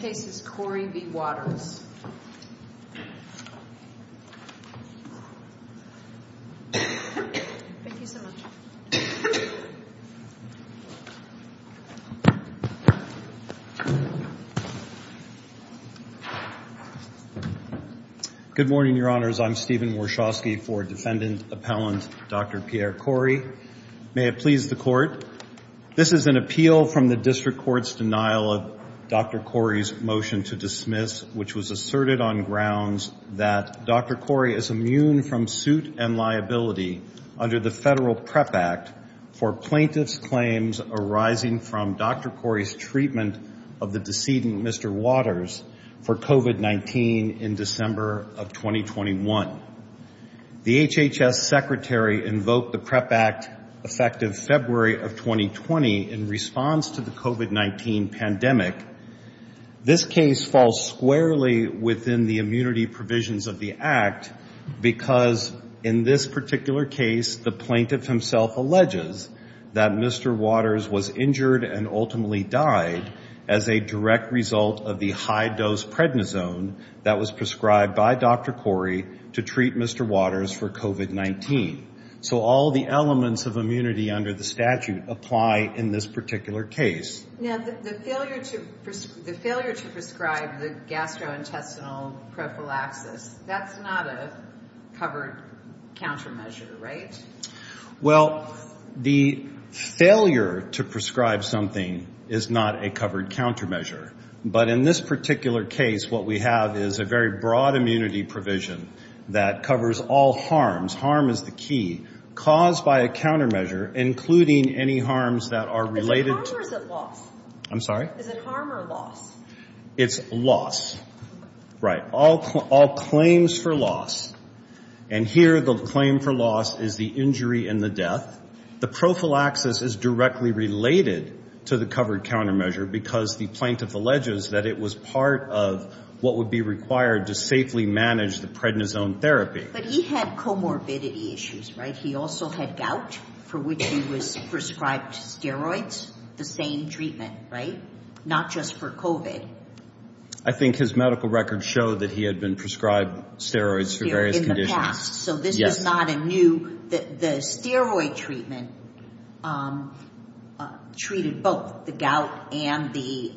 v. Waters. Thank you so much. Good morning, Your Honors. I'm Stephen Warshawsky for Defendant Appellant Dr. Pierre Kory. May it please the Court, this is an appeal from the District Court's denial of Dr. Kory's motion to dismiss, which was asserted on grounds that Dr. Kory is immune from suit and liability under the Federal PrEP Act for plaintiff's claims arising from Dr. Kory's treatment of the decedent, Mr. Waters, for COVID-19 in December of 2021. The HHS Secretary invoked the PrEP Act effective February of 2020 in response to the COVID-19 pandemic. This case falls squarely within the immunity provisions of the Act because in this particular case, the plaintiff himself alleges that Mr. Waters was injured and ultimately died as a direct result of the high-dose prednisone that was prescribed by Dr. Kory to treat Mr. Waters for COVID-19. So all the elements of immunity under the statute apply in this particular case. Now, the failure to prescribe the gastrointestinal prophylaxis, that's not a covered countermeasure, right? Well, the failure to prescribe something is not a covered countermeasure. But in this particular case, what we have is a very broad immunity provision that covers all harms. Harm is the key. Caused by a countermeasure, including any harms that related... Is it harm or loss? I'm sorry? Is it harm or loss? It's loss. Right. All claims for loss. And here, the claim for loss is the injury and the death. The prophylaxis is directly related to the covered countermeasure because the plaintiff alleges that it was part of what would be required to safely manage the prednisone therapy. But he had comorbidity issues, right? He also had gout for which he was prescribed steroids. The same treatment, right? Not just for COVID. I think his medical records show that he had been prescribed steroids for various conditions. In the past. So this is not a new... The steroid treatment treated both the gout and the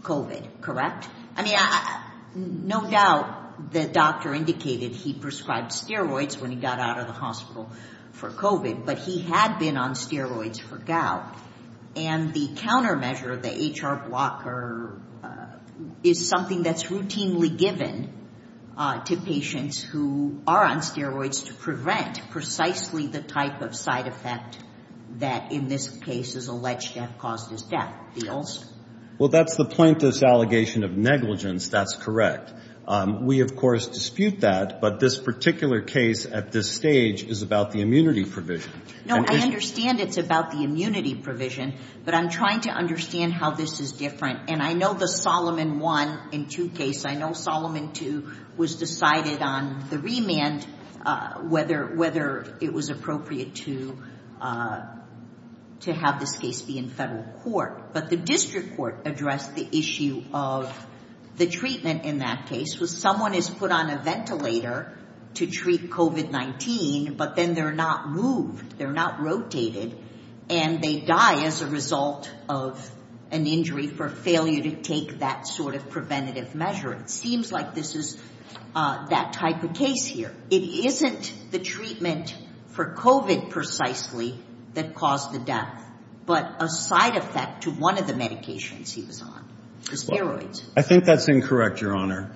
COVID, correct? I mean, no doubt the doctor indicated he prescribed the hospital for COVID, but he had been on steroids for gout. And the countermeasure, the HR blocker, is something that's routinely given to patients who are on steroids to prevent precisely the type of side effect that in this case is alleged to have caused his death. Well, that's the plaintiff's allegation of negligence. That's correct. We, of course, dispute that, but this particular case at this stage is about the immunity provision. No, I understand it's about the immunity provision, but I'm trying to understand how this is different. And I know the Solomon I and II case, I know Solomon II was decided on the remand, whether it was appropriate to have this case be in federal court. But the district court addressed the issue of the treatment in that case was someone is put on a ventilator to treat COVID-19, but then they're not moved. They're not rotated and they die as a result of an injury for failure to take that sort of preventative measure. It seems like this is that type of case here. It isn't the treatment for COVID precisely that caused the death, but a side effect to one of the medications he was on, the steroids. I think that's incorrect, Your Honor.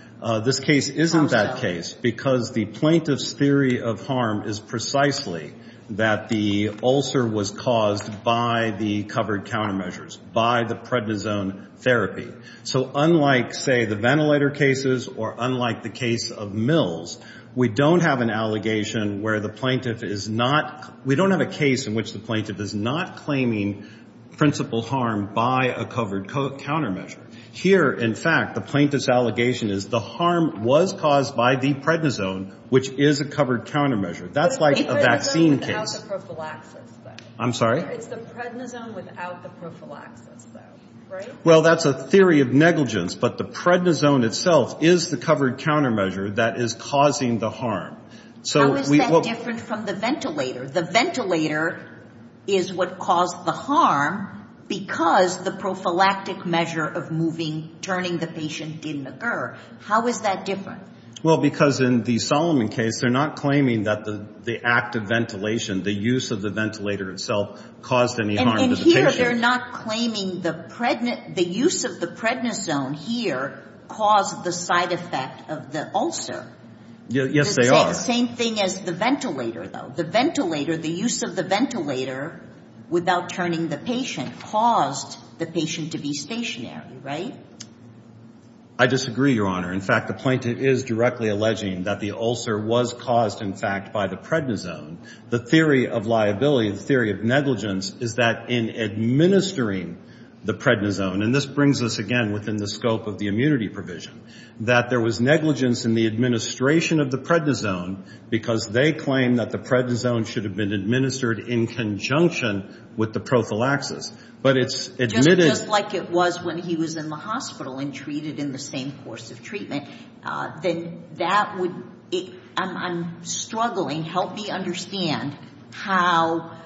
This case isn't that case because the plaintiff's theory of harm is precisely that the ulcer was caused by the covered countermeasures, by the prednisone therapy. So unlike, say, the ventilator cases or unlike the case of Mills, we don't have an allegation where the plaintiff is not, we don't have a case in which the plaintiff is not claiming principal harm by a covered countermeasure. Here, in fact, the plaintiff's allegation is the harm was caused by the prednisone, which is a covered countermeasure. That's like a vaccine case. I'm sorry? It's the prednisone without the prophylaxis, though, right? Well, that's a theory of negligence, but the prednisone itself is the covered countermeasure that is causing the harm. How is that different from the ventilator? The ventilator is what caused the harm because the prophylactic measure of moving, turning the patient didn't occur. How is that different? Well, because in the Solomon case, they're not claiming that the active ventilation, the use of the ventilator itself caused any harm to the patient. And here, they're not claiming the use of the prednisone here caused the side effect of the ulcer. Yes, they are. The same thing as the ventilator, though. The ventilator, the use of the ventilator without turning the patient caused the patient to be stationary, right? I disagree, Your Honor. In fact, the plaintiff is directly alleging that the ulcer was caused, in fact, by the prednisone. The theory of liability, the theory of negligence, is that in administering the prednisone, and this brings us again within the scope of the immunity provision, that there was negligence in the administration of the prednisone because they claim that the prednisone should have been administered in conjunction with the prophylaxis. But it's admitted... Just like it was when he was in the hospital and treated in the same course of treatment, then that would... I'm struggling. Help me understand how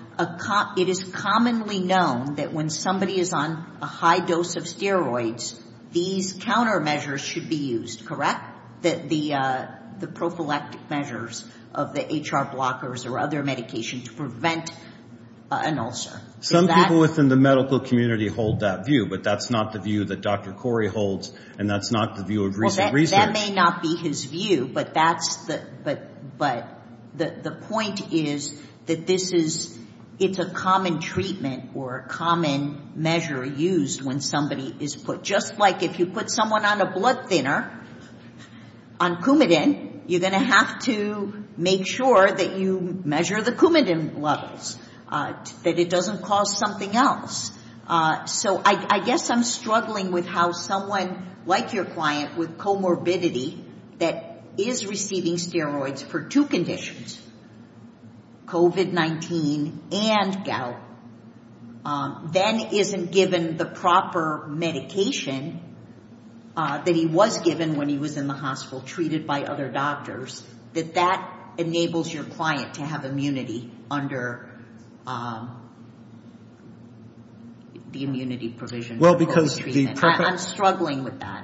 it is commonly known that when somebody is on a high dose of steroids, these countermeasures should be used, correct? The prophylactic measures of the HR blockers or other medication to prevent an ulcer. Some people within the medical community hold that view, but that's not the view that Dr. Corey holds, and that's not the view of recent research. Well, that may not be his view, but the point is that it's a common treatment or a common measure used when somebody is put... Just like if you put someone on a blood thinner, on Coumadin, you're going to have to make sure that you measure the Coumadin levels, that it doesn't cause something else. So I guess I'm struggling with how someone like your client with comorbidity that is receiving steroids for two conditions, COVID-19 and gout, then isn't given the proper medication that he was given when he was in the hospital treated by other doctors, that that enables your client to have immunity under the immunity provision. Well, because the... I'm struggling with that.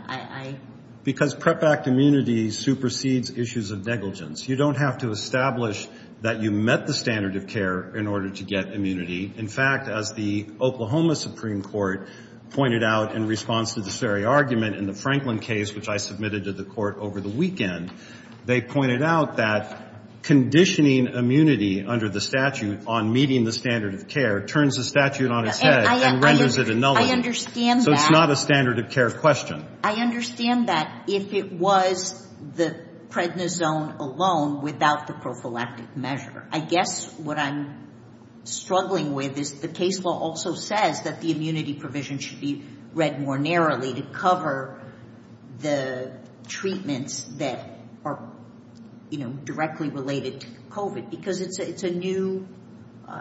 Because PrEP Act immunity supersedes issues of negligence. You don't have to establish that you met the standard of care in order to get immunity. In fact, as the Oklahoma Supreme Court pointed out in response to this very argument in the Franklin case, which I submitted to the court over the weekend, they pointed out that conditioning immunity under the statute on meeting the standard of care turns the statute on its head and renders it a nullity. I understand that. So it's not a standard of care question. I understand that if it was the prednisone alone without the prophylactic measure. I guess what I'm struggling with is the case law also says that the immunity provision should be read more narrowly to cover the treatments that are directly related to COVID because it's a new...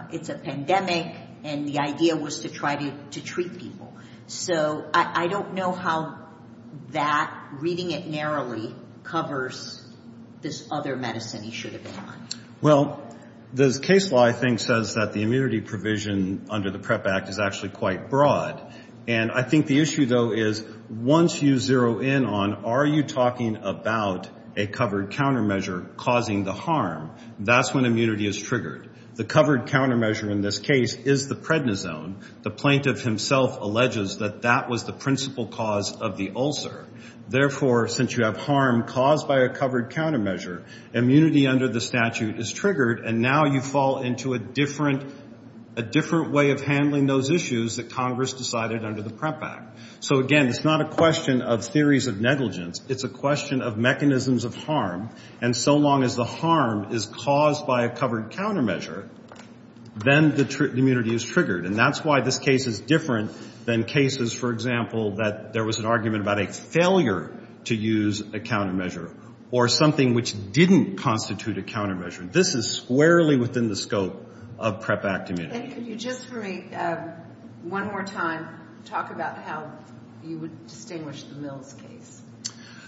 It's a pandemic and the idea was to try to treat people. So I don't know how that reading it narrowly covers this other medicine he should have been on. Well, this case law, I think, says that the immunity provision under the PrEP Act is quite broad. I think the issue, though, is once you zero in on are you talking about a covered countermeasure causing the harm, that's when immunity is triggered. The covered countermeasure in this case is the prednisone. The plaintiff himself alleges that that was the principal cause of the ulcer. Therefore, since you have harm caused by a covered countermeasure, immunity under the statute is triggered and now you fall into a different way of handling those issues that Congress decided under the PrEP Act. So again, it's not a question of theories of negligence. It's a question of mechanisms of harm. And so long as the harm is caused by a covered countermeasure, then the immunity is triggered. And that's why this case is different than cases, for example, that there was an argument about a failure to use a countermeasure or something which didn't constitute a countermeasure. This is squarely within the scope of PrEP Act immunity. And could you just for me, one more time, talk about how you would distinguish the Mills case?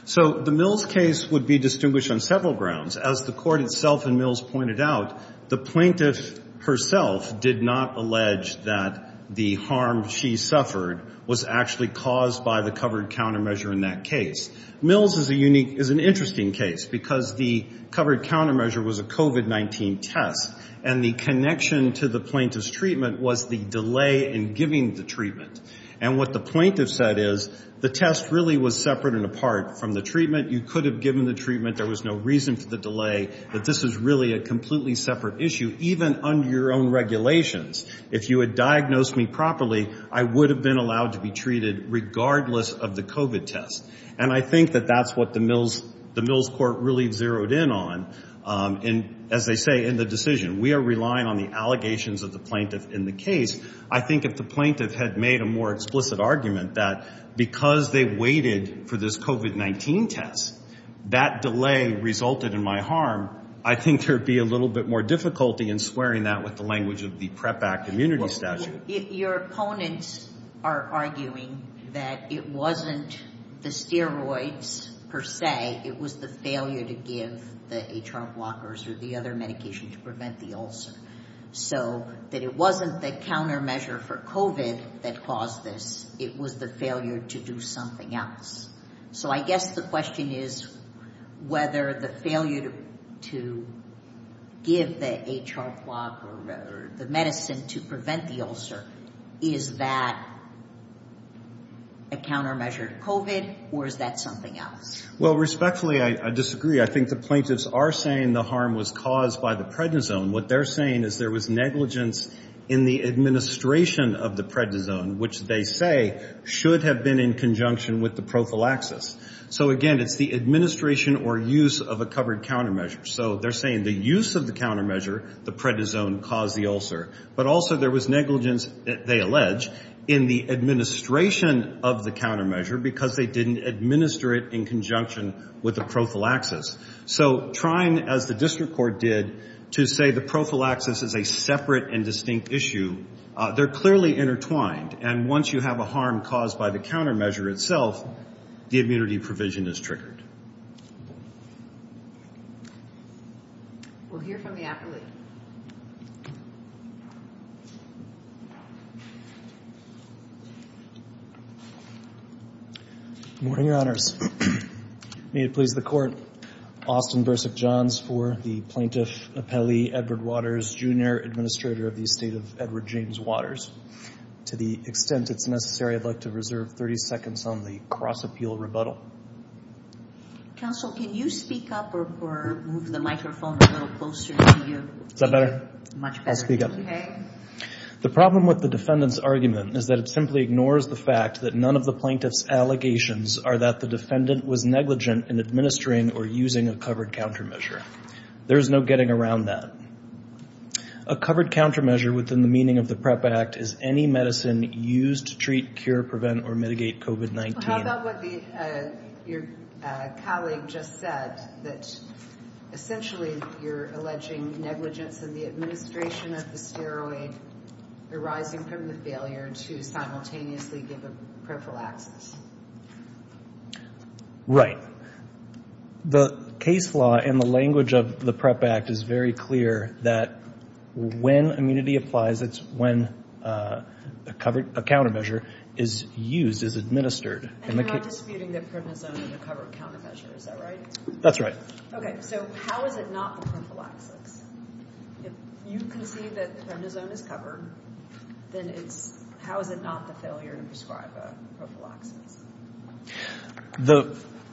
So the Mills case would be distinguished on several grounds. As the court itself and Mills pointed out, the plaintiff herself did not allege that the harm she suffered was actually caused by the covered countermeasure in that case. Mills is a unique, is an interesting case because the covered countermeasure was a COVID-19 test. And the connection to the plaintiff's treatment was the delay in giving the treatment. And what the plaintiff said is, the test really was separate and apart from the treatment. You could have given the treatment. There was no reason for the delay, but this is really a completely separate issue, even under your own regulations. If you had diagnosed me properly, I would have been allowed to be treated regardless of the COVID test. And I think that that's what the Mills court really zeroed in on. And as they say in the decision, we are relying on the allegations of the plaintiff in the case. I think if the plaintiff had made a more explicit argument that because they waited for this COVID-19 test, that delay resulted in my harm, I think there'd be a little bit more difficulty in squaring that with the steroids per se. It was the failure to give the HR blockers or the other medication to prevent the ulcer. So that it wasn't the countermeasure for COVID that caused this. It was the failure to do something else. So I guess the question is whether the failure to give the HR block or the medicine to prevent the ulcer, is that a countermeasure to COVID or is that something else? Well, respectfully, I disagree. I think the plaintiffs are saying the harm was caused by the prednisone. What they're saying is there was negligence in the administration of the prednisone, which they say should have been in conjunction with the prophylaxis. So again, it's the administration or use of a covered countermeasure. So they're saying the use of the countermeasure, the prednisone caused the ulcer. But also there was negligence, they allege, in the administration of the countermeasure because they didn't administer it in conjunction with the prophylaxis. So trying, as the district court did, to say the prophylaxis is a separate and distinct issue, they're clearly intertwined. And once you have a harm caused by the countermeasure itself, the immunity provision is triggered. We'll hear from the appellee. Good morning, your honors. May it please the court, Austin Bursick Johns for the plaintiff appellee, Edward Waters, junior administrator of the estate of Edward James Waters. To the extent it's necessary, I'd like to reserve 30 seconds on the cross-appeal rebuttal. Counsel, can you speak up or move the microphone a little closer to you? Is that better? Much better. I'll speak up. The problem with the defendant's argument is that it simply ignores the fact that none of the plaintiff's allegations are that the defendant was negligent in administering or using a covered countermeasure. There's no getting around that. A covered countermeasure within the meaning of the PREP Act is any medicine used to treat, cure, prevent, or mitigate COVID-19. How about what your colleague just said, that essentially you're alleging negligence in the administration of the steroid arising from the failure to simultaneously give a prophylaxis? Right. The case law and the language of the PREP Act is very clear that when immunity applies, it's when a countermeasure is used, is administered. And you're not disputing that prednisone is a covered countermeasure, is that right? That's right. Okay, so how is it not the prophylaxis? If you can see that prednisone is covered, then how is it not the failure to prescribe a prophylaxis?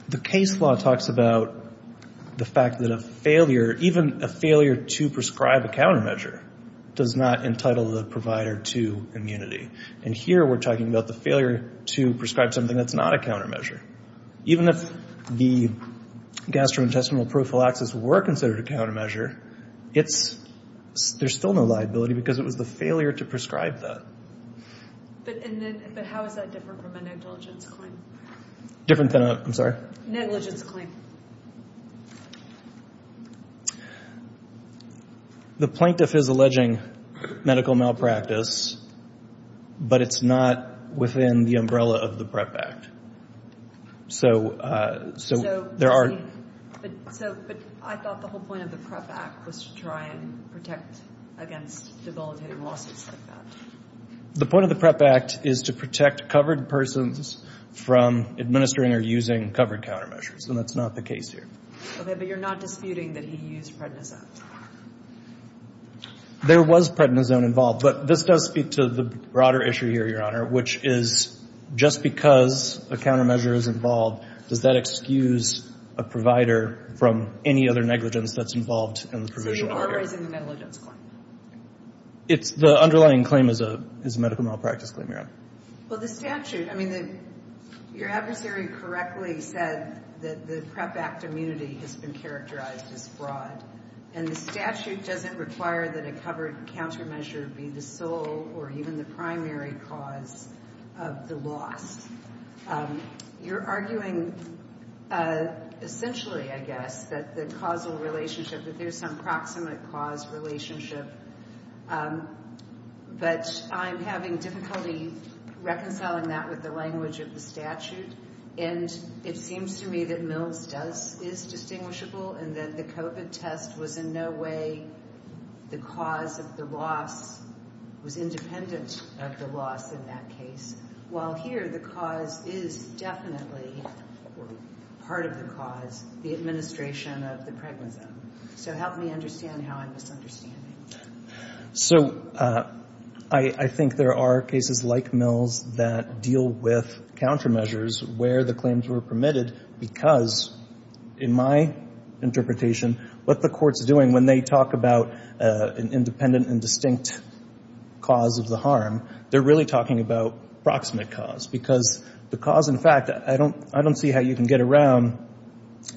The case law talks about the fact that a failure, even a failure to prescribe a countermeasure, does not entitle the provider to immunity. And here we're talking about the failure to prescribe something that's not a countermeasure. Even if the gastrointestinal prophylaxis were considered a countermeasure, there's still no liability because it was the failure to prescribe that. But how is that different from a negligence claim? Different than a, I'm sorry? Negligence claim. The plaintiff is alleging medical malpractice, but it's not within the umbrella of the PREP Act. So, there are... So, but I thought the whole point of the PREP Act was to try and protect against debilitating lawsuits like that. The point of the PREP Act is to protect covered persons from administering or using covered countermeasures, and that's not the case here. Okay, but you're not disputing that he used prednisone? There was prednisone involved, but this does speak to the broader issue here, Your Honor, which is, just because a countermeasure is involved, does that excuse a provider from any other negligence that's involved in the provisional order? So, the order is in the negligence claim? It's, the underlying claim is a medical malpractice claim, Your Honor. Well, the statute, I mean, your adversary correctly said that the PREP Act immunity has been characterized as fraud, and the statute doesn't require that a covered countermeasure be the sole or even the primary cause of the loss. You're arguing, essentially, I guess, that the causal relationship, that there's some proximate cause relationship, but I'm having difficulty reconciling that with the language of the statute, and it seems to me that Mills does, is distinguishable, and that the COVID test was in no way the cause of the loss, was independent of the loss in that case, while here, the cause is definitely, or part of the cause, the administration of the prednisone. So, help me understand how I'm misunderstanding. So, I think there are cases like Mills that deal with countermeasures where the claims were permitted because, in my interpretation, what the court's doing when they talk about an independent and distinct cause of the harm, they're really talking about proximate cause, because the cause, in fact, I don't see how you can get around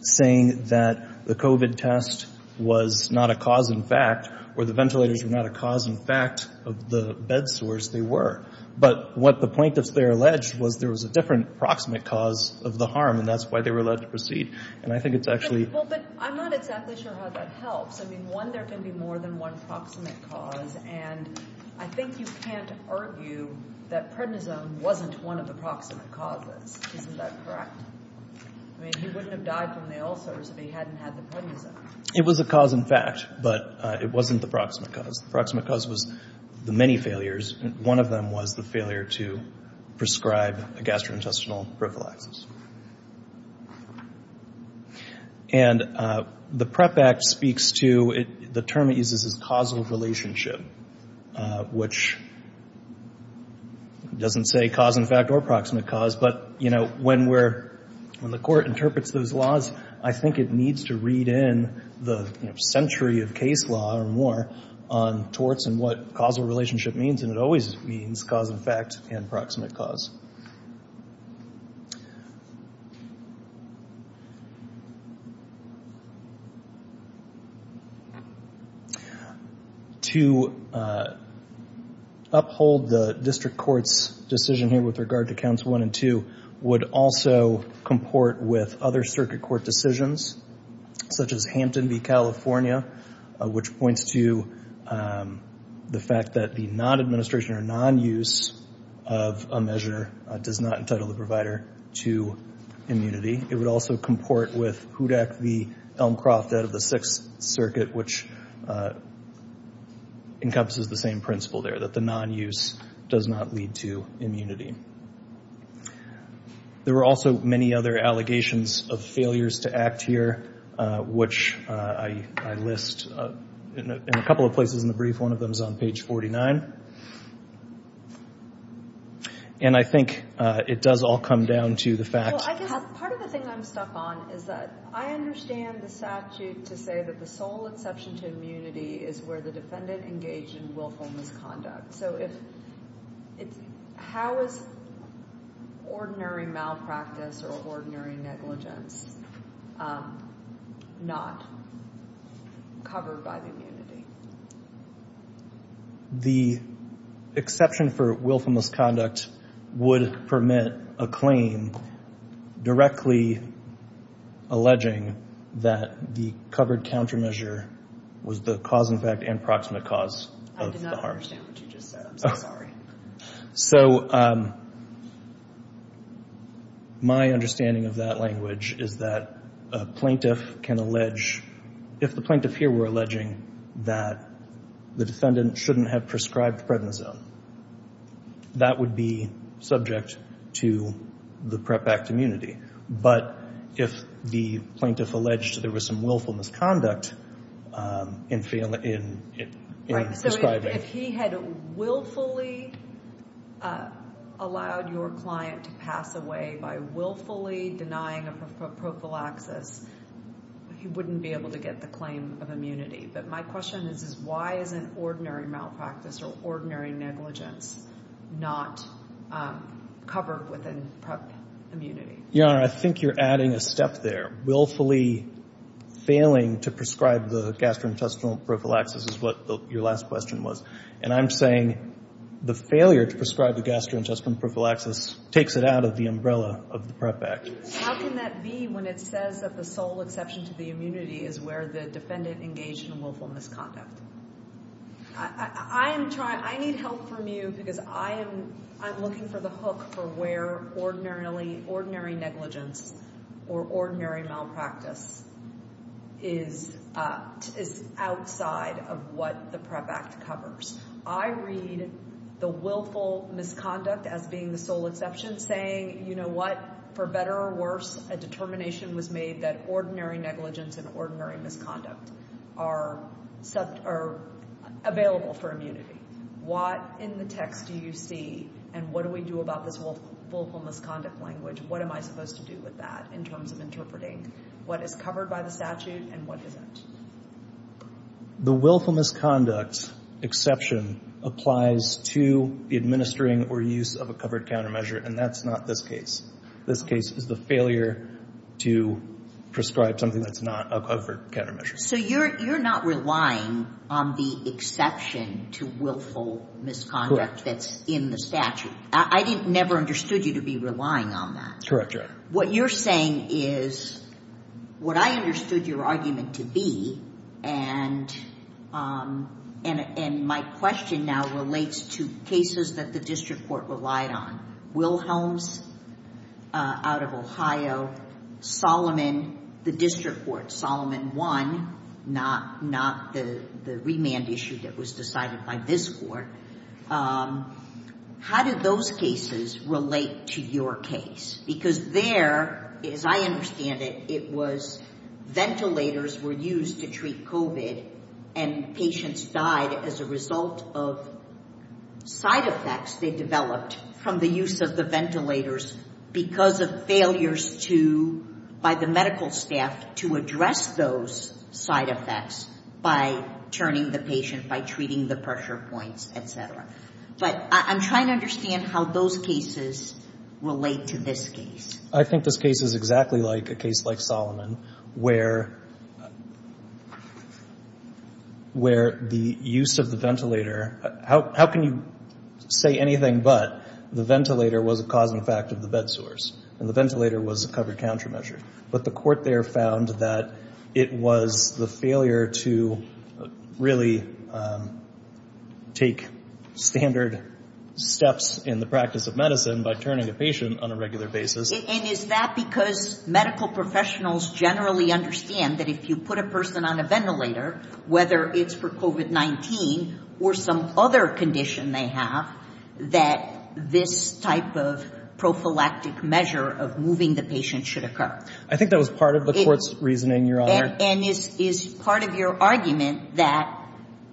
saying that the COVID test was not a cause in fact, or the ventilators were not a cause in fact of the bed sores they were, but what the plaintiffs there alleged was there was a different proximate cause of the harm, and that's why they were allowed to proceed, and I think it's actually... Well, but I'm not exactly sure how that helps. I mean, one, there can be more than one proximate cause, and I think you can't argue that prednisone wasn't one of the proximate causes. Isn't that correct? I mean, he wouldn't have died from the ulcers if he hadn't had the prednisone. It was a cause in fact, but it wasn't the proximate cause. The proximate cause was the many failures, and one of them was the failure to prescribe a gastrointestinal prophylaxis. And the PREP Act speaks to... The term it uses is causal relationship, which doesn't say cause in fact or proximate cause, but when the court interprets those laws, I think it needs to read in the century of case law or more on torts and what causal relationship means, and it always means cause in fact and proximate cause. To uphold the district court's decision here with regard to counts one and two would also comport with other circuit court decisions, such as Hampton v. California, which points to the fact that the non-administration or non-use of a measure does not entitle the provider to immunity. It would also comport with Hudak v. Elmcroft out of the Sixth Circuit, which encompasses the same principle there, that the non-use does not lead to immunity. There were also many other allegations of failures to act here, which I list in a couple of places in the brief. One of them is on page 49. And I think it does all come down to the fact... Part of the thing I'm stuck on is that I understand the statute to say that the sole exception to immunity is where the defendant engaged in willful misconduct. So if it's... How is ordinary malpractice or ordinary negligence not covered by the immunity? The exception for willful misconduct would permit a claim directly alleging that the covered countermeasure was the cause in fact and proximate cause of the harms. I don't understand what you just said. I'm so sorry. So my understanding of that language is that a plaintiff can allege, if the plaintiff here were alleging that the defendant shouldn't have prescribed prednisone, that would be subject to the PREP Act immunity. But if the plaintiff alleged there was some willful misconduct in prescribing... If he had willfully allowed your client to pass away by willfully denying a prophylaxis, he wouldn't be able to get the claim of immunity. But my question is, why isn't ordinary malpractice or ordinary negligence not covered within PREP immunity? Your Honor, I think you're adding a step there. Willfully failing to prescribe the gastrointestinal prophylaxis is what your last question was. And I'm saying the failure to prescribe the gastrointestinal prophylaxis takes it out of the umbrella of the PREP Act. How can that be when it says that the sole exception to the immunity is where the defendant engaged in willful misconduct? I need help from you because I'm looking for the hook for where ordinary negligence or ordinary malpractice is outside of what the PREP Act covers. I read the willful misconduct as being the sole exception saying, you know what, for better or worse, a determination was made that ordinary negligence and ordinary misconduct are available for immunity. What in the text do you see and what do we do about this willful misconduct language? What am I supposed to do with that in terms of interpreting what is covered by the statute and what isn't? The willful misconduct exception applies to the administering or use of a covered countermeasure, and that's not this case. This case is the failure to prescribe something that's not a covered countermeasure. So you're not relying on the exception to willful misconduct that's in the statute. I never understood you to be relying on that. Correct, Your Honor. What you're saying is what I understood your argument to be, and my question now relates to cases that the district court relied on. Wilhelms out of Ohio, Solomon, the district court, Solomon 1, not the remand issue that was decided by this court. How did those cases relate to your case? Because there, as I understand it, it was ventilators were used to treat COVID, and patients died as a result of side effects they developed from the use of the ventilators because of failures by the medical staff to address those side effects by turning the patient, by treating the pressure points, et cetera. But I'm trying to understand how those cases relate to this case. I think this case is exactly like a case like Solomon, where the use of the ventilator, how can you say anything but the ventilator was a cause and effect of the bed sores, and the ventilator was a covered countermeasure. But the court there found that it was the failure to really take standard steps in the practice of medicine by turning a patient on a regular basis. And is that because medical professionals generally understand that if you put a person on a ventilator, whether it's for COVID-19 or some other condition they have, that this type of prophylactic measure of moving the patient should occur? I think that was part of the court's reasoning, Your Honor. And is part of your argument that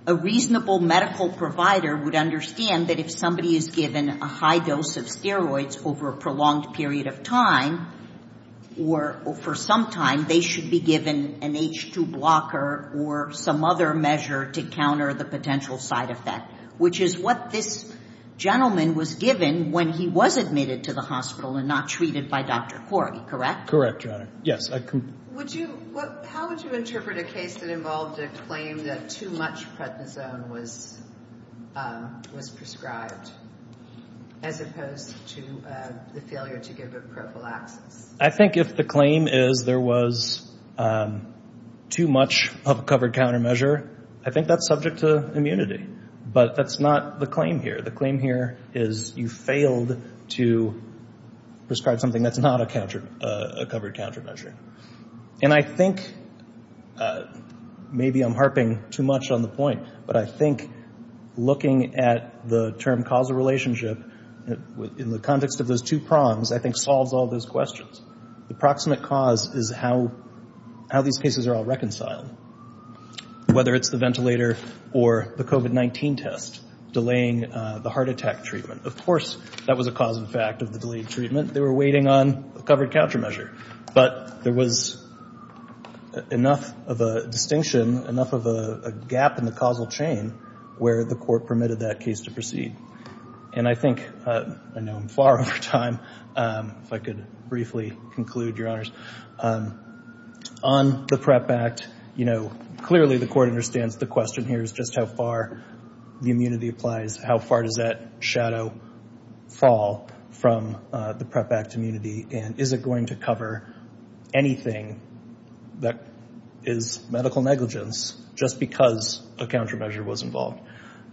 a reasonable medical provider would understand that if somebody is given a high dose of steroids over a prolonged period of time, or for some time, they should be given an H2 blocker or some other measure to counter the potential side effect, which is what this gentleman was given when he was admitted to the hospital and not treated by Dr. Corey, correct? Correct, Your Honor. Yes. How would you interpret a case that involved a claim that too much prednisone was prescribed, as opposed to the failure to give it prophylaxis? I think if the claim is there was too much of a covered countermeasure, I think that's subject to immunity. But that's not the claim here. The claim here is you failed to prescribe something that's not a covered countermeasure. And I think, maybe I'm harping too much on the point, but I think looking at the term causal relationship in the context of those two prongs, I think, solves all those questions. The proximate cause is how these cases are all reconciled, whether it's the ventilator or the COVID-19 test delaying the heart attack treatment. Of course, that was a cause and effect of the delayed treatment. They were waiting on a covered countermeasure. But there was enough of a distinction, enough of a gap in the causal chain where the court permitted that case to proceed. And I think, I know I'm far over time, if I could briefly conclude, Your Honors. On the PrEP Act, clearly, the court understands the question here is just how far the immunity applies. How far does that shadow fall from the PrEP Act immunity? And is it going to cover anything that is medical negligence just because a countermeasure was involved?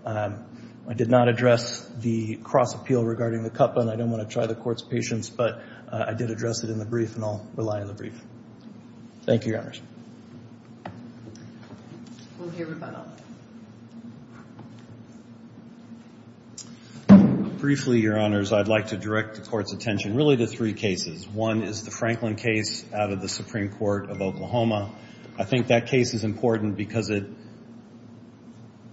I did not address the cross appeal regarding the cup, and I don't try the court's patience, but I did address it in the brief, and I'll rely on the brief. Thank you, Your Honors. Briefly, Your Honors, I'd like to direct the court's attention really to three cases. One is the Franklin case out of the Supreme Court of Oklahoma. I think that case is important because it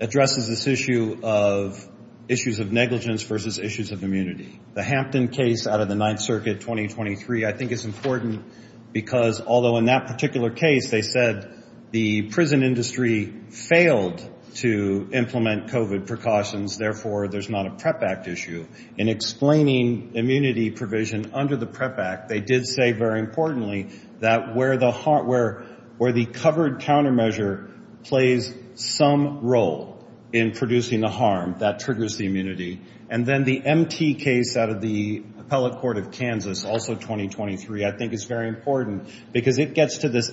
addresses this issue of issues of negligence versus issues of immunity. The Hampton case out of the Ninth Circuit, 2023, I think is important because, although in that particular case they said the prison industry failed to implement COVID precautions, therefore, there's not a PrEP Act issue. In explaining immunity provision under the PrEP Act, they did say, very importantly, that where the covered countermeasure plays some role in producing the harm, that triggers the immunity. And then the MT case out of the Appellate Court of Kansas, also 2023, I think is very important because it gets to this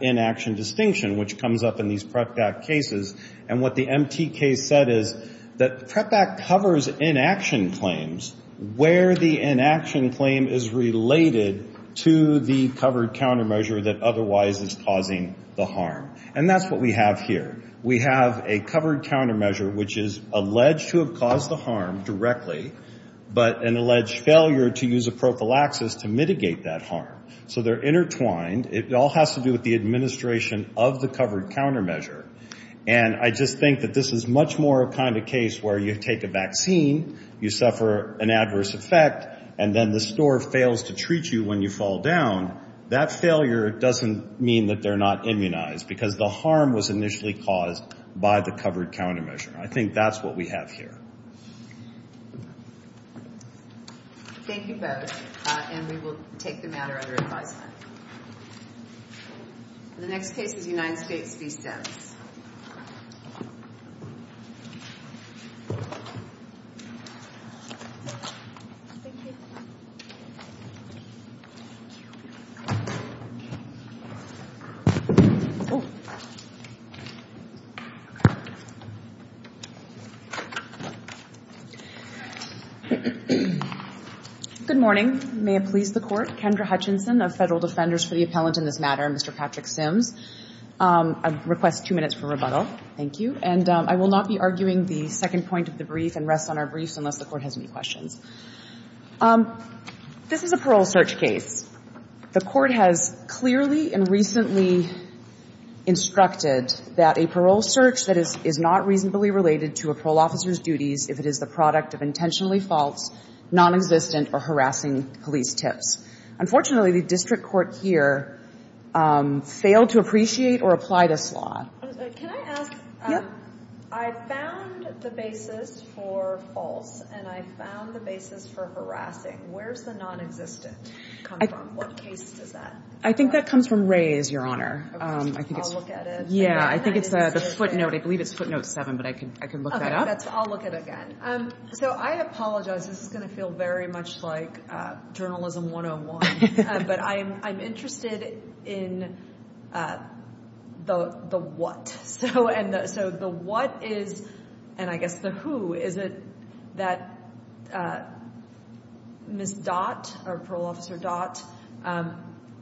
inaction distinction, which comes up in these PrEP Act cases. And what the MT case said is that PrEP Act covers inaction claims where the inaction claim is related to the covered countermeasure that otherwise is causing the harm. And that's what we have here. We have a covered countermeasure which is alleged to have caused the harm directly, but an alleged failure to use a prophylaxis to mitigate that harm. So they're intertwined. It all has to do with the administration of the covered countermeasure. And I just think that this is much more a kind of case where you take a vaccine, you suffer an adverse effect, and then the store fails to treat you when you fall down. That failure doesn't mean that they're not immunized because the harm was initially caused by the covered countermeasure. I think that's what we have here. Thank you both. And we will take the matter under advisement. The next case is United States v. Stats. Good morning. May it please the Court. Kendra Hutchinson of Federal Defenders for the Appellant in this matter, and Mr. Patrick Sims. I request two minutes for rebuttal. Thank you. And I will not be arguing the second point of the brief and rest on our briefs unless the Court has any questions. This is a parole search case. The Court has clearly and recently instructed that a parole search that is not reasonably related to a parole officer's duties if it is the product of intentionally false, non-existent, or harassing police tips. Unfortunately, the district court here failed to appreciate or apply this law. Can I ask, I found the basis for false, and I found the basis for harassing. Where's the non-existent come from? What case is that? I think that comes from Ray's, Your Honor. I'll look at it. Yeah, I think it's the footnote. I believe it's footnote seven, but I can look that up. I'll look at it again. So I apologize. This is going to feel very much like journalism 101, but I'm interested in the what. So the what is, and I guess the who. Is it that Ms. Dot or Parole Officer Dot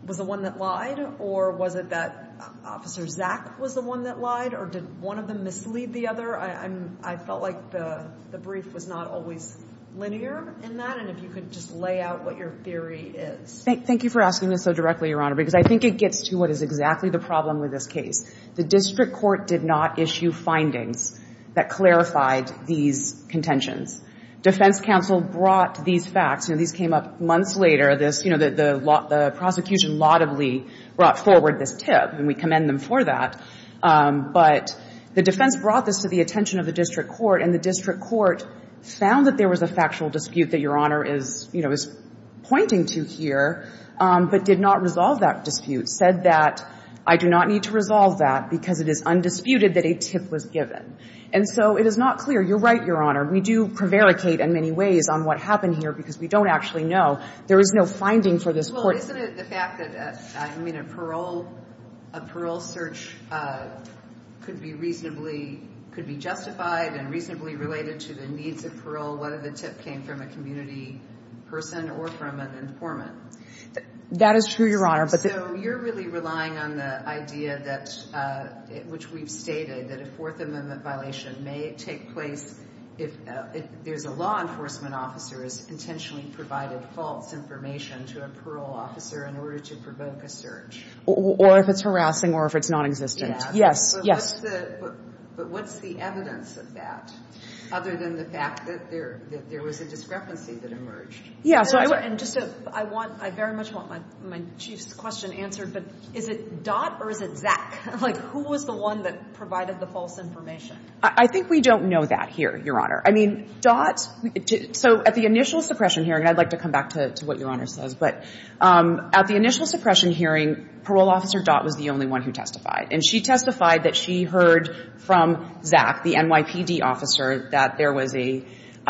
was the one that lied, or was it that Officer Zach was the one that lied, or did one of them mislead the other? I felt like the brief was not always linear in that, and if you could just lay out what your theory is. Thank you for asking this so directly, Your Honor, because I think it gets to what is exactly the problem with this case. The district court did not issue findings that clarified these contentions. Defense counsel brought these facts, and these came up months later. This, you know, the prosecution laudably brought forward this tip, and we commend them for that, but the defense brought this to the attention of the district court, and the district court found that there was a factual dispute that Your Honor is, you know, is pointing to here, but did not resolve that dispute, said that I do not need to resolve that because it is undisputed that a tip was given, and so it is not clear. You're right, Your Honor. We do prevaricate in many ways on what happened here because we don't actually know. There is no finding for this court. Well, isn't it the fact that, I mean, a parole, a parole search could be reasonably, could be justified and reasonably related to the needs of parole, whether the tip came from a community person or from an informant? That is true, Your Honor. So you're really relying on the idea that, which we've stated, that a Fourth Amendment violation may take place if there's a law enforcement officer has intentionally provided false information to a parole officer in order to provoke a search? Or if it's harassing, or if it's nonexistent. Yes, yes. But what's the evidence of that, other than the fact that there was a discrepancy that emerged? Yes. And just to, I want, I very much want my Chief's question answered, but is it Dott or is it Zack? Like, who was the one that provided the false information? I think we don't know that here, Your Honor. I mean, Dott, so at the initial suppression hearing, and I'd like to come back to what Your Honor says, but at the initial suppression hearing, parole officer Dott was the only one who testified. And she testified that she heard from Zack, the NYPD officer, that there was a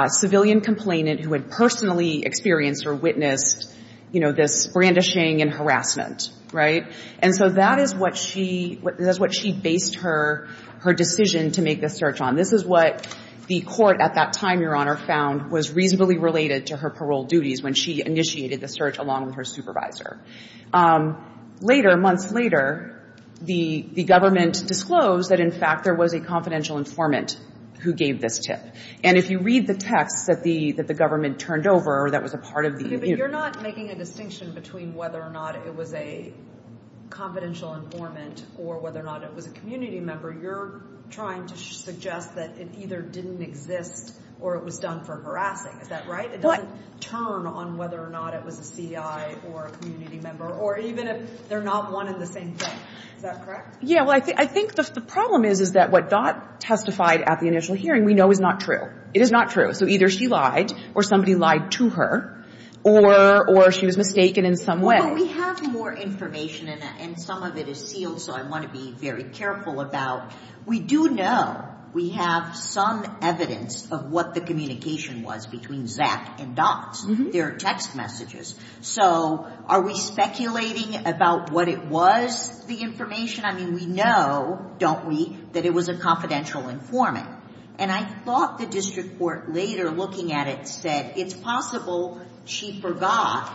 civilian complainant who had personally experienced or witnessed, you know, this brandishing and harassment, right? And so that is what she, that's what she based her decision to make the search on. This is what the court at that time, Your Honor, found was reasonably related to her parole duties when she initiated the search along with her supervisor. Later, months later, the government disclosed that in fact there was a confidential informant who gave this tip. And if you read the texts that the, that the government turned over, that was a part of the, you know. Okay, but you're not making a distinction between whether or not it was a confidential informant or whether or not it was a community member. You're trying to suggest that it either didn't exist or it was done for harassing. Is that right? It doesn't turn on whether or not it was a CI or a community member, or even if they're not one in the same thing. Is that correct? Yeah, well, I think, I think the problem is, is that what Dot testified at the initial hearing, we know is not true. It is not true. So either she lied or somebody lied to her, or, or she was mistaken in some way. But we have more information and some of it is sealed, so I want to be very careful about, we do know we have some evidence of what the communication was between Zach and Dot. There are text messages. So are we speculating about what it was the information? I mean, we know, don't we, that it was a confidential informant. And I thought the district court later looking at it said it's possible she forgot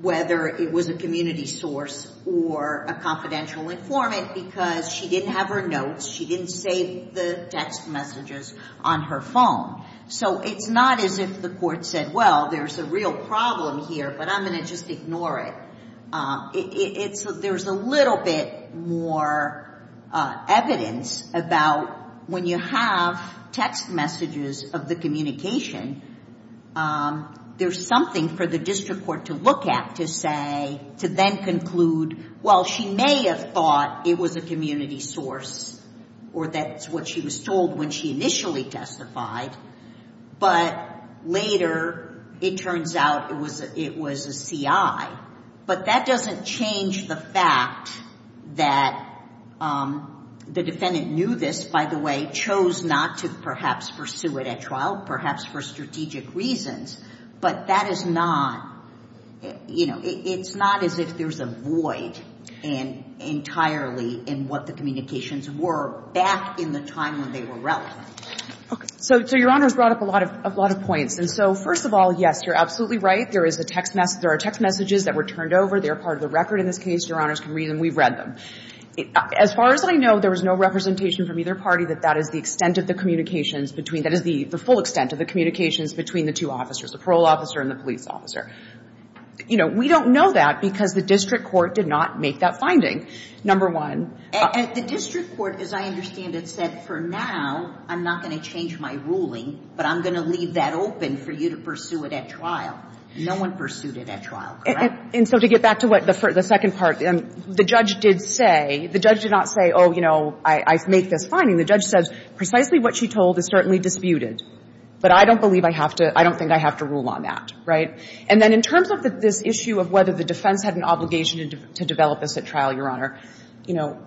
whether it was a community source or a confidential informant because she didn't have her notes, she didn't save the text messages on her phone. So it's not as if the court said, well, there's a real problem here, but I'm going to just ignore it. It's, there's a little bit more evidence about when you have text messages of the communication, there's something for the district court to look at to say, to then conclude, well, she may have thought it was a community source or that's what she was told when she initially testified, but later it turns out it was, it was a CI. But that doesn't change the fact that the defendant knew this, by the way, chose not to perhaps pursue it at trial, perhaps for strategic reasons, but that is not, you know, it's not as if there's a void entirely in what the communications were back in the time when they were relevant. Okay. So, so Your Honor's brought up a lot of, a lot of points. And so, first of all, yes, you're absolutely right. There is a text message, there are text messages that were turned over. They're part of the record in this case. Your Honor's can read them. We've read them. As far as I know, there was no representation from either party that that is the extent of the communications between, that is the full extent of the communications between the two officers, the parole officer and the police officer. You know, we don't know that because the district court did not make that finding, number one. And the district court, as I understand it, said, for now, I'm not going to change my ruling, but I'm going to leave that open for you to pursue it at trial. No one pursued it at trial, correct? And so to get back to what the second part, the judge did say, the judge did not say, oh, you know, I make this finding. The judge says, precisely what she told is certainly disputed. But I don't believe I have to, I don't think I have to rule on that, right? And then in terms of this issue of whether the defense had an obligation to develop this at trial, Your Honor, you know,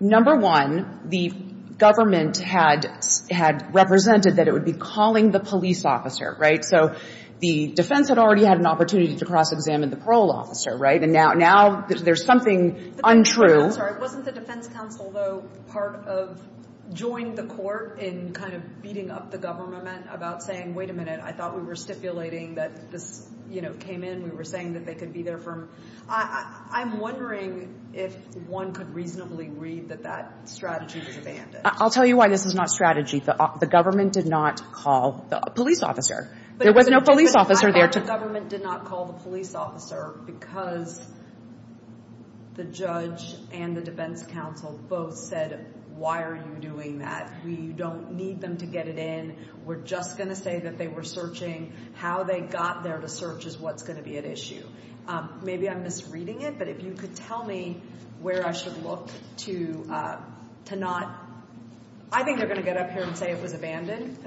number one, the government had, had represented that it would be calling the police officer, right? So the defense had already had an opportunity to cross-examine the parole officer, right? And now, now there's something untrue. Wasn't the defense counsel, though, part of, joined the court in kind of beating up the government about saying, wait a minute, I thought we were stipulating that this, you know, came in. We were saying that they could be there from, I'm wondering if one could reasonably read that that strategy was abandoned. I'll tell you why this is not strategy. The government did not call the police officer. There was no police officer there. The government did not call the police officer because the judge and the defense counsel both said, why are you doing that? We don't need them to get it in. We're just going to say that they were searching. How they got there to search is what's going to be at issue. Maybe I'm misreading it, but if you could tell me where I should look to, to not, I think they're going to get up here and say it was abandoned.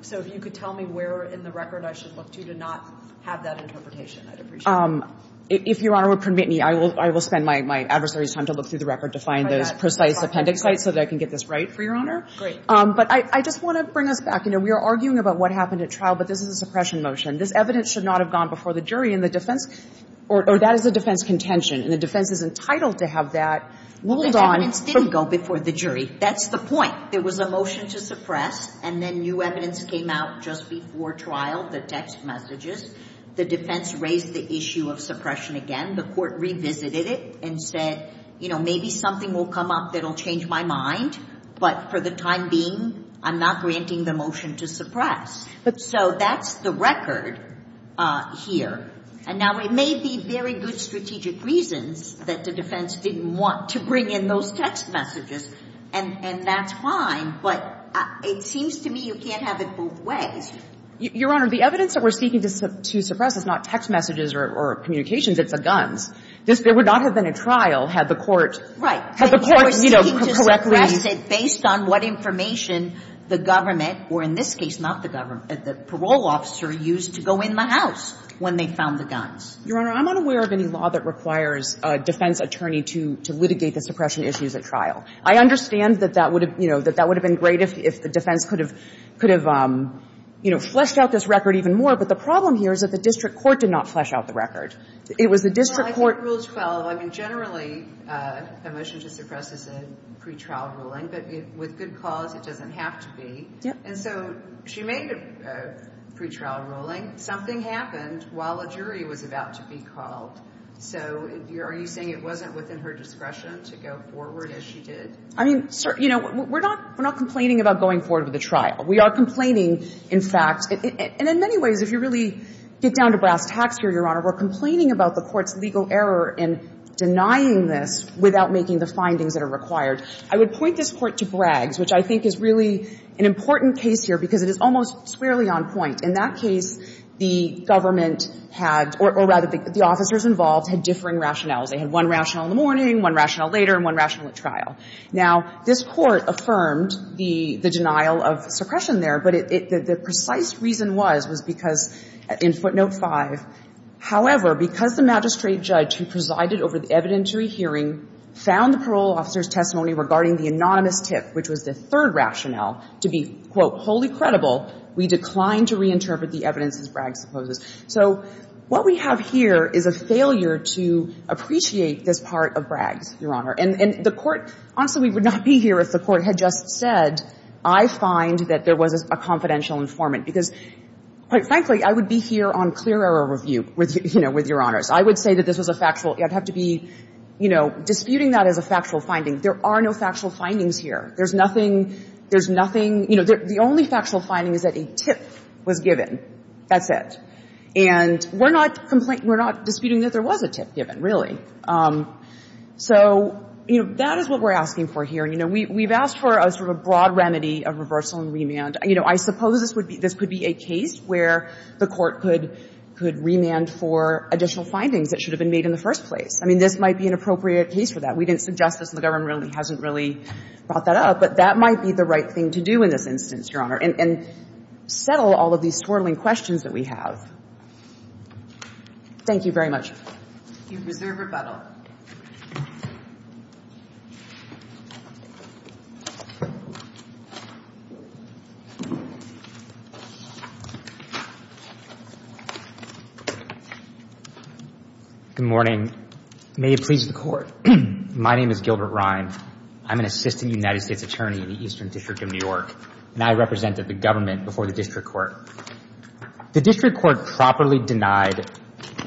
So if you could tell me where in the record I should look to, to not have that interpretation, I'd appreciate it. If Your Honor would permit me, I will spend my adversary's time to look through the record to find those precise appendix sites so that I can get this right for Your Honor. Great. But I just want to bring us back. You know, we are arguing about what happened at trial, but this is a suppression motion. This evidence should not have gone before the jury in the defense, or that is a defense contention, and the defense is entitled to have that ruled on. The evidence didn't go before the jury. That's the point. There was a motion to suppress, and then new evidence came out just before trial, the text messages. The defense raised the issue of suppression again. The court revisited it and said, you know, maybe something will come up that will change my mind, but for the time being, I'm not granting the motion to suppress. So that's the record here. And now it may be very good strategic reasons that the defense didn't want to bring in those text messages, and that's fine, but it seems to me you can't have it both ways. Your Honor, the evidence that we're seeking to suppress is not text messages or communications. It's the guns. There would not have been a trial had the court, you know, correctly You're seeking to suppress it based on what information the government, or in this case, not the government, the parole officer used to go in the house when they found the guns. Your Honor, I'm unaware of any law that requires a defense attorney to litigate the suppression issues at trial. I understand that that would have, you know, that that would have been great if the defense could have, you know, fleshed out this record even more, but the problem here is that the district court did not flesh out the record. It was the district court Well, I think Rule 12, I mean, generally, a motion to suppress is a pretrial ruling, but with good cause, it doesn't have to be. And so she made a pretrial ruling. Something happened while a jury was about to be called. So are you saying it wasn't within her discretion to go forward as she did? I mean, you know, we're not complaining about going forward with a trial. We are complaining, in fact, and in many ways, if you really get down to brass tacks here, Your Honor, we're complaining about the court's legal error in denying this without making the findings that are required. I would point this Court to Braggs, which I think is really an important case here because it is almost squarely on point. In that case, the government had, or rather, the officers involved had differing rationales. They had one rationale in the morning, one rationale later, and one rationale at trial. Now, this Court affirmed the denial of suppression there, but the precise reason was, was because in footnote 5, however, because the magistrate judge who presided over the evidentiary hearing found the parole officer's testimony regarding the anonymous tip, which was the third rationale, to be, quote, wholly credible, we declined to reinterpret the evidence, as Braggs supposes. So what we have here is a failure to appreciate this part of Braggs, Your Honor. And the Court – honestly, we would not be here if the Court had just said, I find that there was a confidential informant, because, quite frankly, I would be here on clear error review with, you know, with Your Honors. I would say that this was a factual – I'd have to be, you know, disputing that as a factual finding. There are no factual findings here. There's nothing – there's nothing – you know, the only factual finding is that a tip was given. That's it. And we're not complaining – we're not disputing that there was a tip given, really. So, you know, that is what we're asking for here. You know, we've asked for a sort of a broad remedy of reversal and remand. You know, I suppose this would be – this could be a case where the Court could – could remand for additional findings that should have been made in the first place. I mean, this might be an appropriate case for that. We didn't suggest this, and the government really hasn't really brought that up, but that might be the right thing to do in this instance, Your Honor, and – and settle all of these swirling questions that we have. Thank you very much. Thank you. Reserve rebuttal. MR. GILBERT-RHYNE. Good morning. May it please the Court. My name is Gilbert Rhyne. I'm an assistant United States attorney in the Eastern District of New York, and I represented the government before the district court. The district court properly denied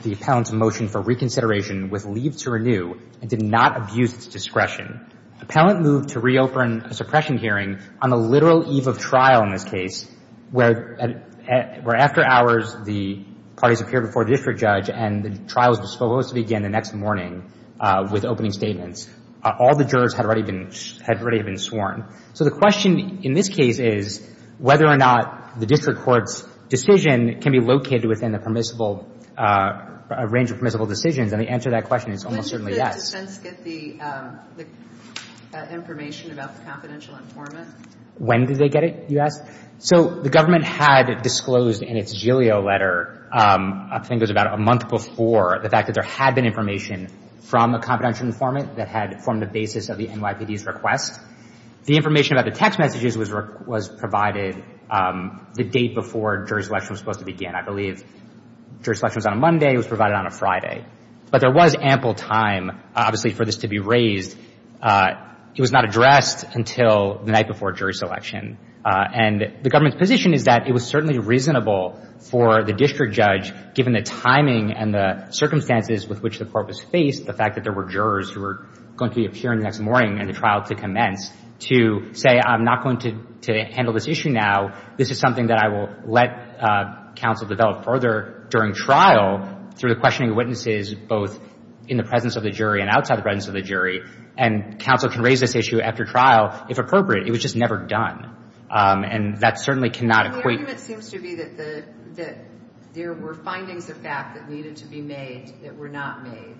the appellant's motion for reconsideration with leave to renew and did not abuse its discretion. The appellant moved to reopen a suppression hearing on the literal eve of trial in this case, where – where after hours, the parties appeared before the district judge, and the trial was supposed to begin the next morning with opening All the jurors had already been – had already been sworn. So the question in this case is whether or not the district court's decision can be located within the permissible – a range of permissible decisions, and the answer to that question is almost certainly yes. When did the defense get the – the information about the confidential informant? When did they get it, you ask? So the government had disclosed in its gilio letter, I think it was about a month before, the fact that there had been information from a confidential informant that had formed the basis of the NYPD's request. The information about the text messages was provided the date before jury selection was supposed to begin. I believe jury selection was on a Monday. It was provided on a Friday. But there was ample time, obviously, for this to be raised. It was not addressed until the night before jury selection. And the government's position is that it was certainly reasonable for the district judge, given the timing and the circumstances with which the court was faced, the fact that there were jurors who were going to be appearing the next morning in the trial to commence, to say, I'm not going to – to handle this issue now. This is something that I will let counsel develop further during trial through the questioning of witnesses, both in the presence of the jury and outside the presence of the jury. And counsel can raise this issue after trial, if appropriate. It was just never done. And that certainly cannot equate – that there were findings of fact that needed to be made that were not made.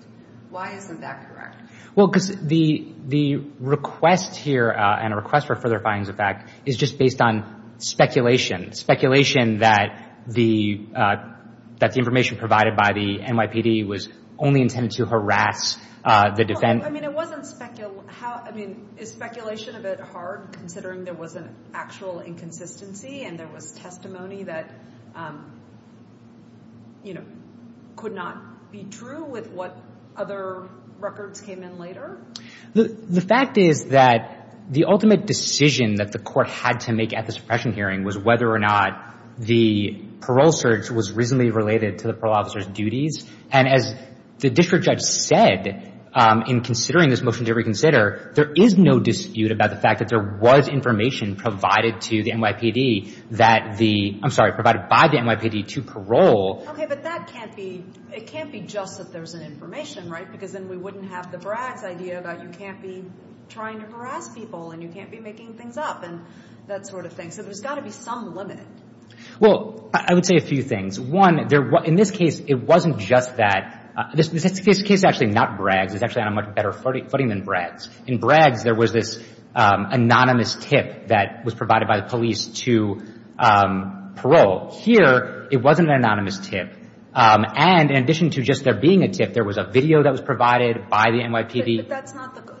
Why isn't that correct? Well, because the request here, and a request for further findings of fact, is just based on speculation. Speculation that the information provided by the NYPD was only intended to harass the defendant. I mean, it wasn't – I mean, is speculation a bit hard, considering there was an actual inconsistency and there was testimony that, you know, could not be true with what other records came in later? The fact is that the ultimate decision that the court had to make at the suppression hearing was whether or not the parole search was reasonably related to the parole officer's duties. And as the district judge said in considering this motion to reconsider, there is no dispute about the fact that there was information provided to the NYPD that the – I'm sorry, provided by the NYPD to parole. Okay. But that can't be – it can't be just that there's an information, right? Because then we wouldn't have the Braggs idea that you can't be trying to harass people and you can't be making things up and that sort of thing. So there's got to be some limit. Well, I would say a few things. One, there – in this case, it wasn't just that – this case actually not Braggs. It's actually on a much better footing than Braggs. In Braggs, there was this anonymous tip that was provided by the police to parole. Here, it wasn't an anonymous tip. And in addition to just there being a tip, there was a video that was provided by the NYPD. But that's not the –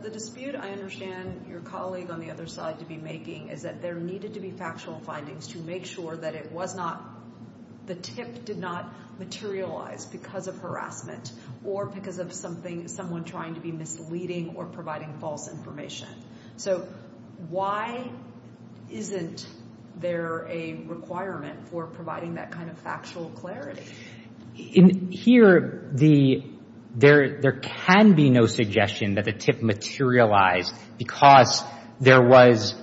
the dispute I understand your colleague on the other side to be making is that there needed to be factual findings to make sure that it was not – the tip did not materialize because of harassment or because of something – someone trying to be misleading or providing false information. So why isn't there a requirement for providing that kind of factual clarity? In here, the – there can be no suggestion that the tip materialized because there was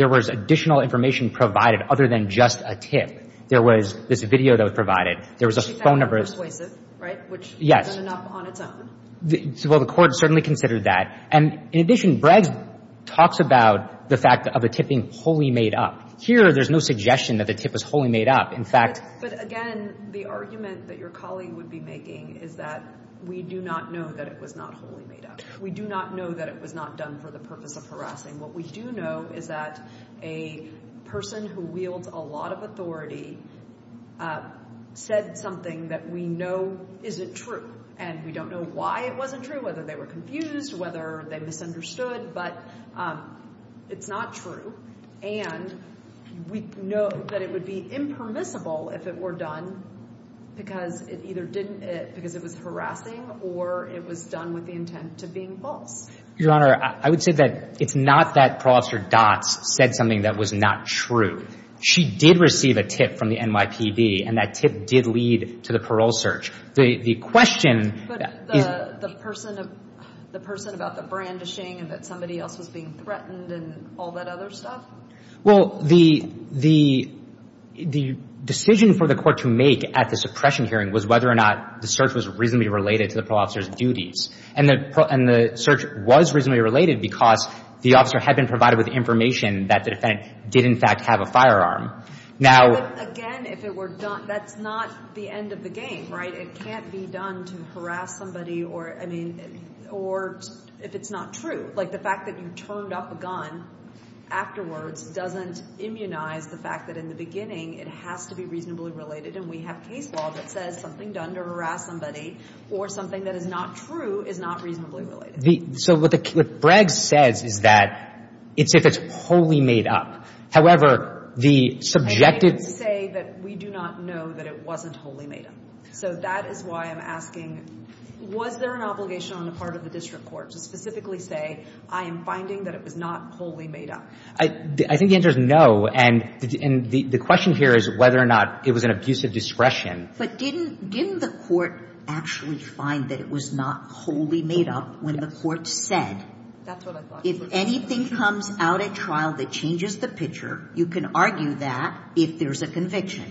additional information provided other than just a tip. There was this video that was provided. There was a phone number. But she found it persuasive, right? Yes. Which ended up on its own. Well, the court certainly considered that. And in addition, Braggs talks about the fact of the tip being wholly made up. Here, there's no suggestion that the tip was wholly made up. In fact – But again, the argument that your colleague would be making is that we do not know that it was not wholly made up. We do not know that it was not done for the purpose of harassment. What we do know is that a person who wields a lot of authority said something that we know isn't true. And we don't know why it wasn't true, whether they were confused, whether they misunderstood. But it's not true. And we know that it would be impermissible if it were done because it either didn't – because it was harassing or it was done with the intent of being false. Your Honor, I would say that it's not that Parole Officer Dotz said something that was not true. She did receive a tip from the NYPD, and that tip did lead to the parole search. The question is – But the person about the brandishing and that somebody else was being threatened and all that other stuff? Well, the decision for the court to make at the suppression hearing was whether or not the search was reasonably related to the parole officer's duties. And the search was reasonably related because the officer had been provided with information that the defendant did, in fact, have a firearm. Now – But again, if it were done – that's not the end of the game, right? It can't be done to harass somebody or – I mean – or if it's not true. Like, the fact that you turned up a gun afterwards doesn't immunize the fact that in the beginning, it has to be reasonably related. And we have case law that says something done to harass somebody or something that is not true is not reasonably related. So what the – what Breggs says is that it's if it's wholly made up. However, the subjective – I didn't say that we do not know that it wasn't wholly made up. So that is why I'm asking, was there an obligation on the part of the district court to specifically say, I am finding that it was not wholly made up? I think the answer is no. And the question here is whether or not it was an abuse of discretion. But didn't – didn't the court actually find that it was not wholly made up when the court said – That's what I thought. If anything comes out at trial that changes the picture, you can argue that if there's a conviction.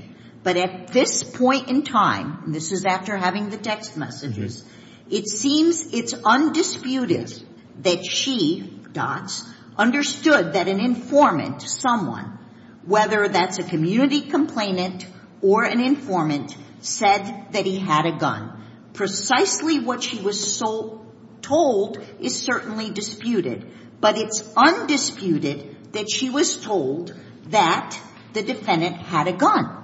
But at this point in time – and this is after having the text messages – it seems it's undisputed that she, Dots, understood that an informant, someone, whether that's a community complainant or an informant, said that he had a gun. Precisely what she was told is certainly disputed. But it's undisputed that she was told that the defendant had a gun.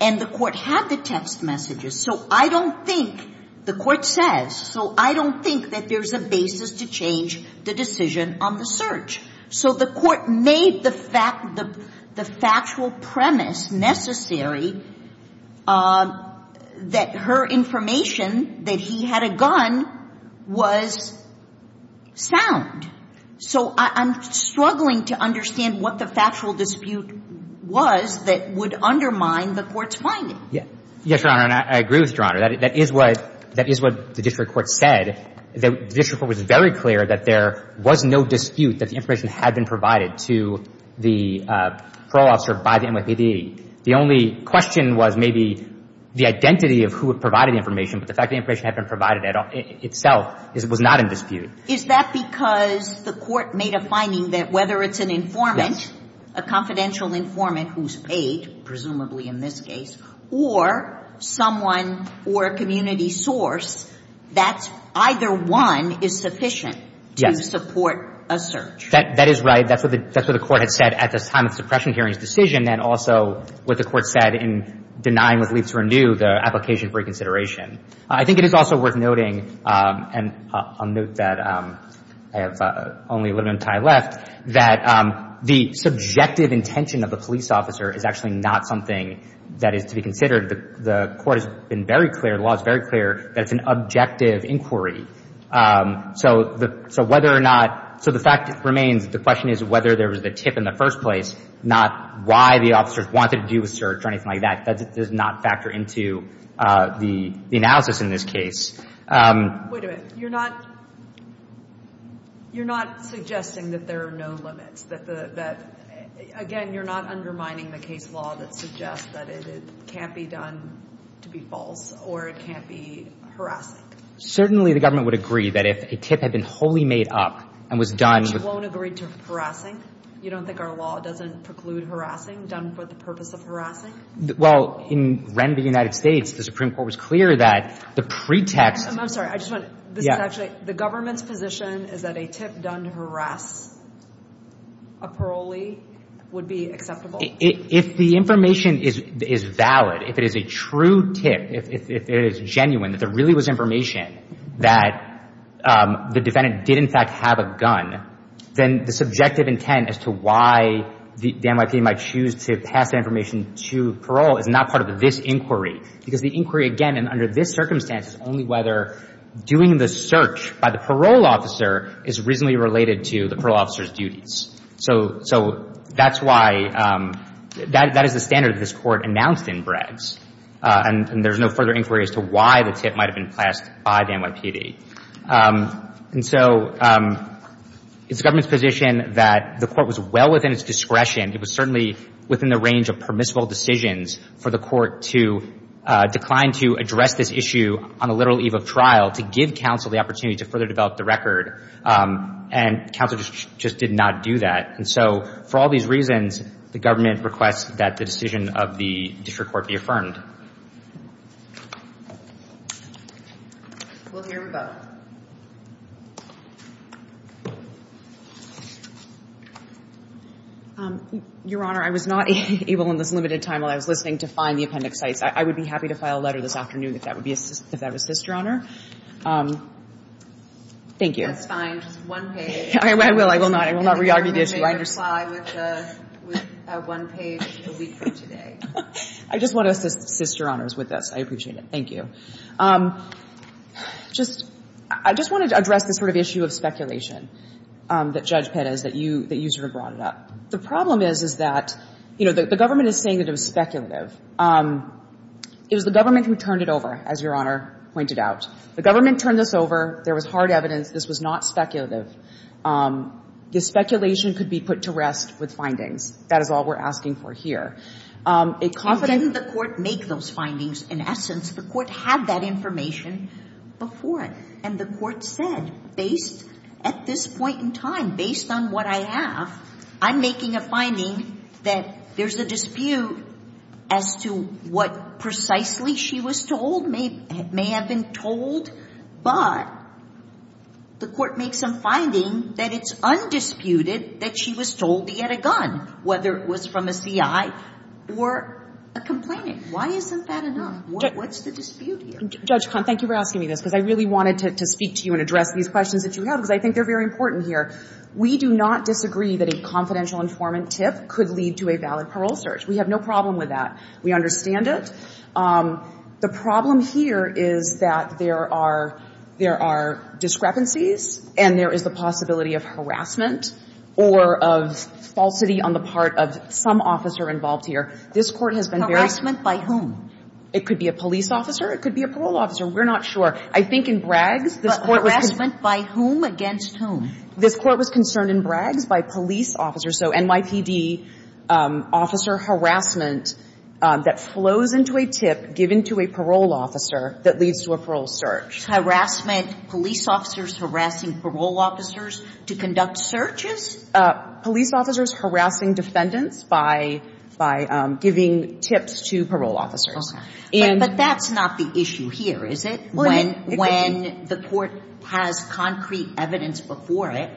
And the court had the text messages. So I don't think – the court says – so I don't think that there's a basis to change the decision on the search. So the court made the fact – the factual premise necessary that her information that he had a gun was sound. So I'm struggling to understand what the factual dispute was that would undermine the court's finding. Yes, Your Honor. And I agree with Your Honor. That is what – that is what the district court was very clear that there was no dispute that the information had been provided to the parole officer by the NYPD. The only question was maybe the identity of who had provided the information. But the fact that the information had been provided itself was not in dispute. Is that because the court made a finding that whether it's an informant, a confidential informant who's paid, presumably in this case, or someone or a community source, that either one is sufficient to support a search? Yes. That is right. That's what the court had said at the time of the suppression hearing's decision and also what the court said in denying what leads to renew the application for reconsideration. I think it is also worth noting – and I'll note that I have only a little bit of time left – that the subjective intention of the police officer is actually not something that is to be considered. The court has been very clear, the law is very clear, that it's an objective inquiry. So whether or not – so the fact remains the question is whether there was a tip in the first place, not why the officers wanted to do a search or anything like that. That does not factor into the analysis in this case. Wait a minute. You're not – you're not suggesting that there are no limits, that – again, you're not undermining the case law that suggests that it can't be done to be false or it can't be harassing? Certainly the government would agree that if a tip had been wholly made up and was done – Which won't agree to harassing? You don't think our law doesn't preclude harassing done for the purpose of harassing? Well, in Ren v. United States, the Supreme Court was clear that the pretext – I'm sorry. I just want – this is actually – the government's position is that a tip done to harass a parolee would be acceptable? If the information is valid, if it is a true tip, if it is genuine, that there really was information that the defendant did in fact have a gun, then the subjective intent as to why the NYPD might choose to pass that information to parole is not part of this inquiry, because the inquiry, again, and under this circumstance is only whether doing the search by the parole officer is reasonably related to the parole officer's duties. So that's why – that is the standard that this court announced in Breds, and there's no further inquiry as to why the tip might have been passed by the NYPD. And so it's the government's position that the court was well within its discretion. It was certainly within the range of permissible decisions for the court to decline to address this issue on the literal eve of trial to give counsel the opportunity to further develop the record, and counsel just did not do that. And so for all these reasons, the government requests that the decision of the district court be affirmed. We'll hear from both. Your Honor, I was not able in this limited time while I was listening to find the appendix sites. I would be happy to file a letter this afternoon if that would be a sister honor. Thank you. That's fine. Just one page. I will. I will not. I will not re-argue the issue. I understand. I can make a reply with one page a week from today. I just want to assist your honors with this. I appreciate it. Thank you. Just – I just wanted to address this sort of issue of speculation that Judge Pettis, that you sort of brought it up. The problem is, is that, you know, the government is saying that it was speculative. It was the government who turned it over, as your honor pointed out. The government turned this over. There was hard evidence. This was not speculative. The speculation could be put to rest with findings. That is all we're asking for here. And didn't the court make those findings? In essence, the court had that information before, and the court said, based – at this point in time, based on what I have, I'm making a finding that there's a dispute as to what precisely she was told may – may have been told, but the court makes some finding that it's undisputed that she was told he had a gun, whether it was from a C.I. or a complainant. Why isn't that enough? What's the dispute here? Judge Cahn, thank you for asking me this, because I really wanted to speak to you and address these questions that you have, because I think they're very important here. We do not disagree that a confidential informant tip could lead to a valid parole search. We have no problem with that. We understand it. The problem here is that there are – there are discrepancies, and there is the possibility of harassment or of falsity on the part of some officer involved here. This court has been very – Harassment by whom? It could be a police officer. It could be a parole officer. We're not sure. I think in Braggs, this court was – But harassment by whom against whom? This court was concerned in Braggs by police officers. So NYPD officer harassment that flows into a tip given to a parole officer that leads to a parole search. Harassment, police officers harassing parole officers to conduct searches? Police officers harassing defendants by – by giving tips to parole officers. Okay. But that's not the issue here, is it? It could be. The court has concrete evidence before it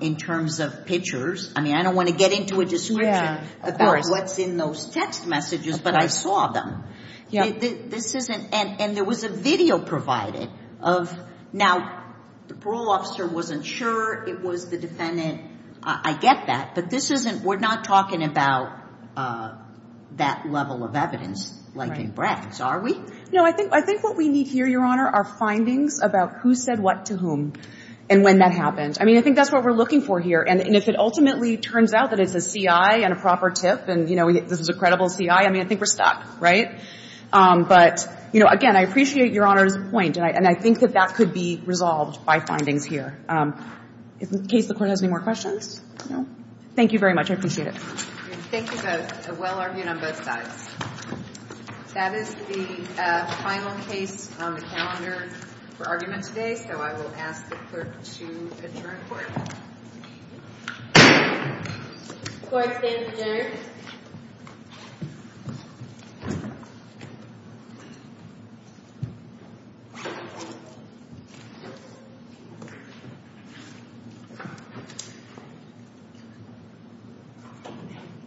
in terms of pictures. I mean, I don't want to get into a description about what's in those text messages, but I saw them. This isn't – and there was a video provided of – now, the parole officer wasn't sure. It was the defendant. I get that, but this isn't – we're not talking about that level of evidence like in Braggs, are we? No. I think what we need here, Your Honor, are findings about who said what to whom and when that happened. I mean, I think that's what we're looking for here. And if it ultimately turns out that it's a CI and a proper tip and, you know, this is a credible CI, I mean, I think we're stuck, right? But, you know, again, I appreciate Your Honor's point, and I think that that could be resolved by findings here. In case the Court has any more questions? Thank you very much. I appreciate it. Thank you both. A well-argued on both sides. That is the final case on the calendar for argument today, so I will ask the Clerk to adjourn Court. Court stands adjourned. Thank you.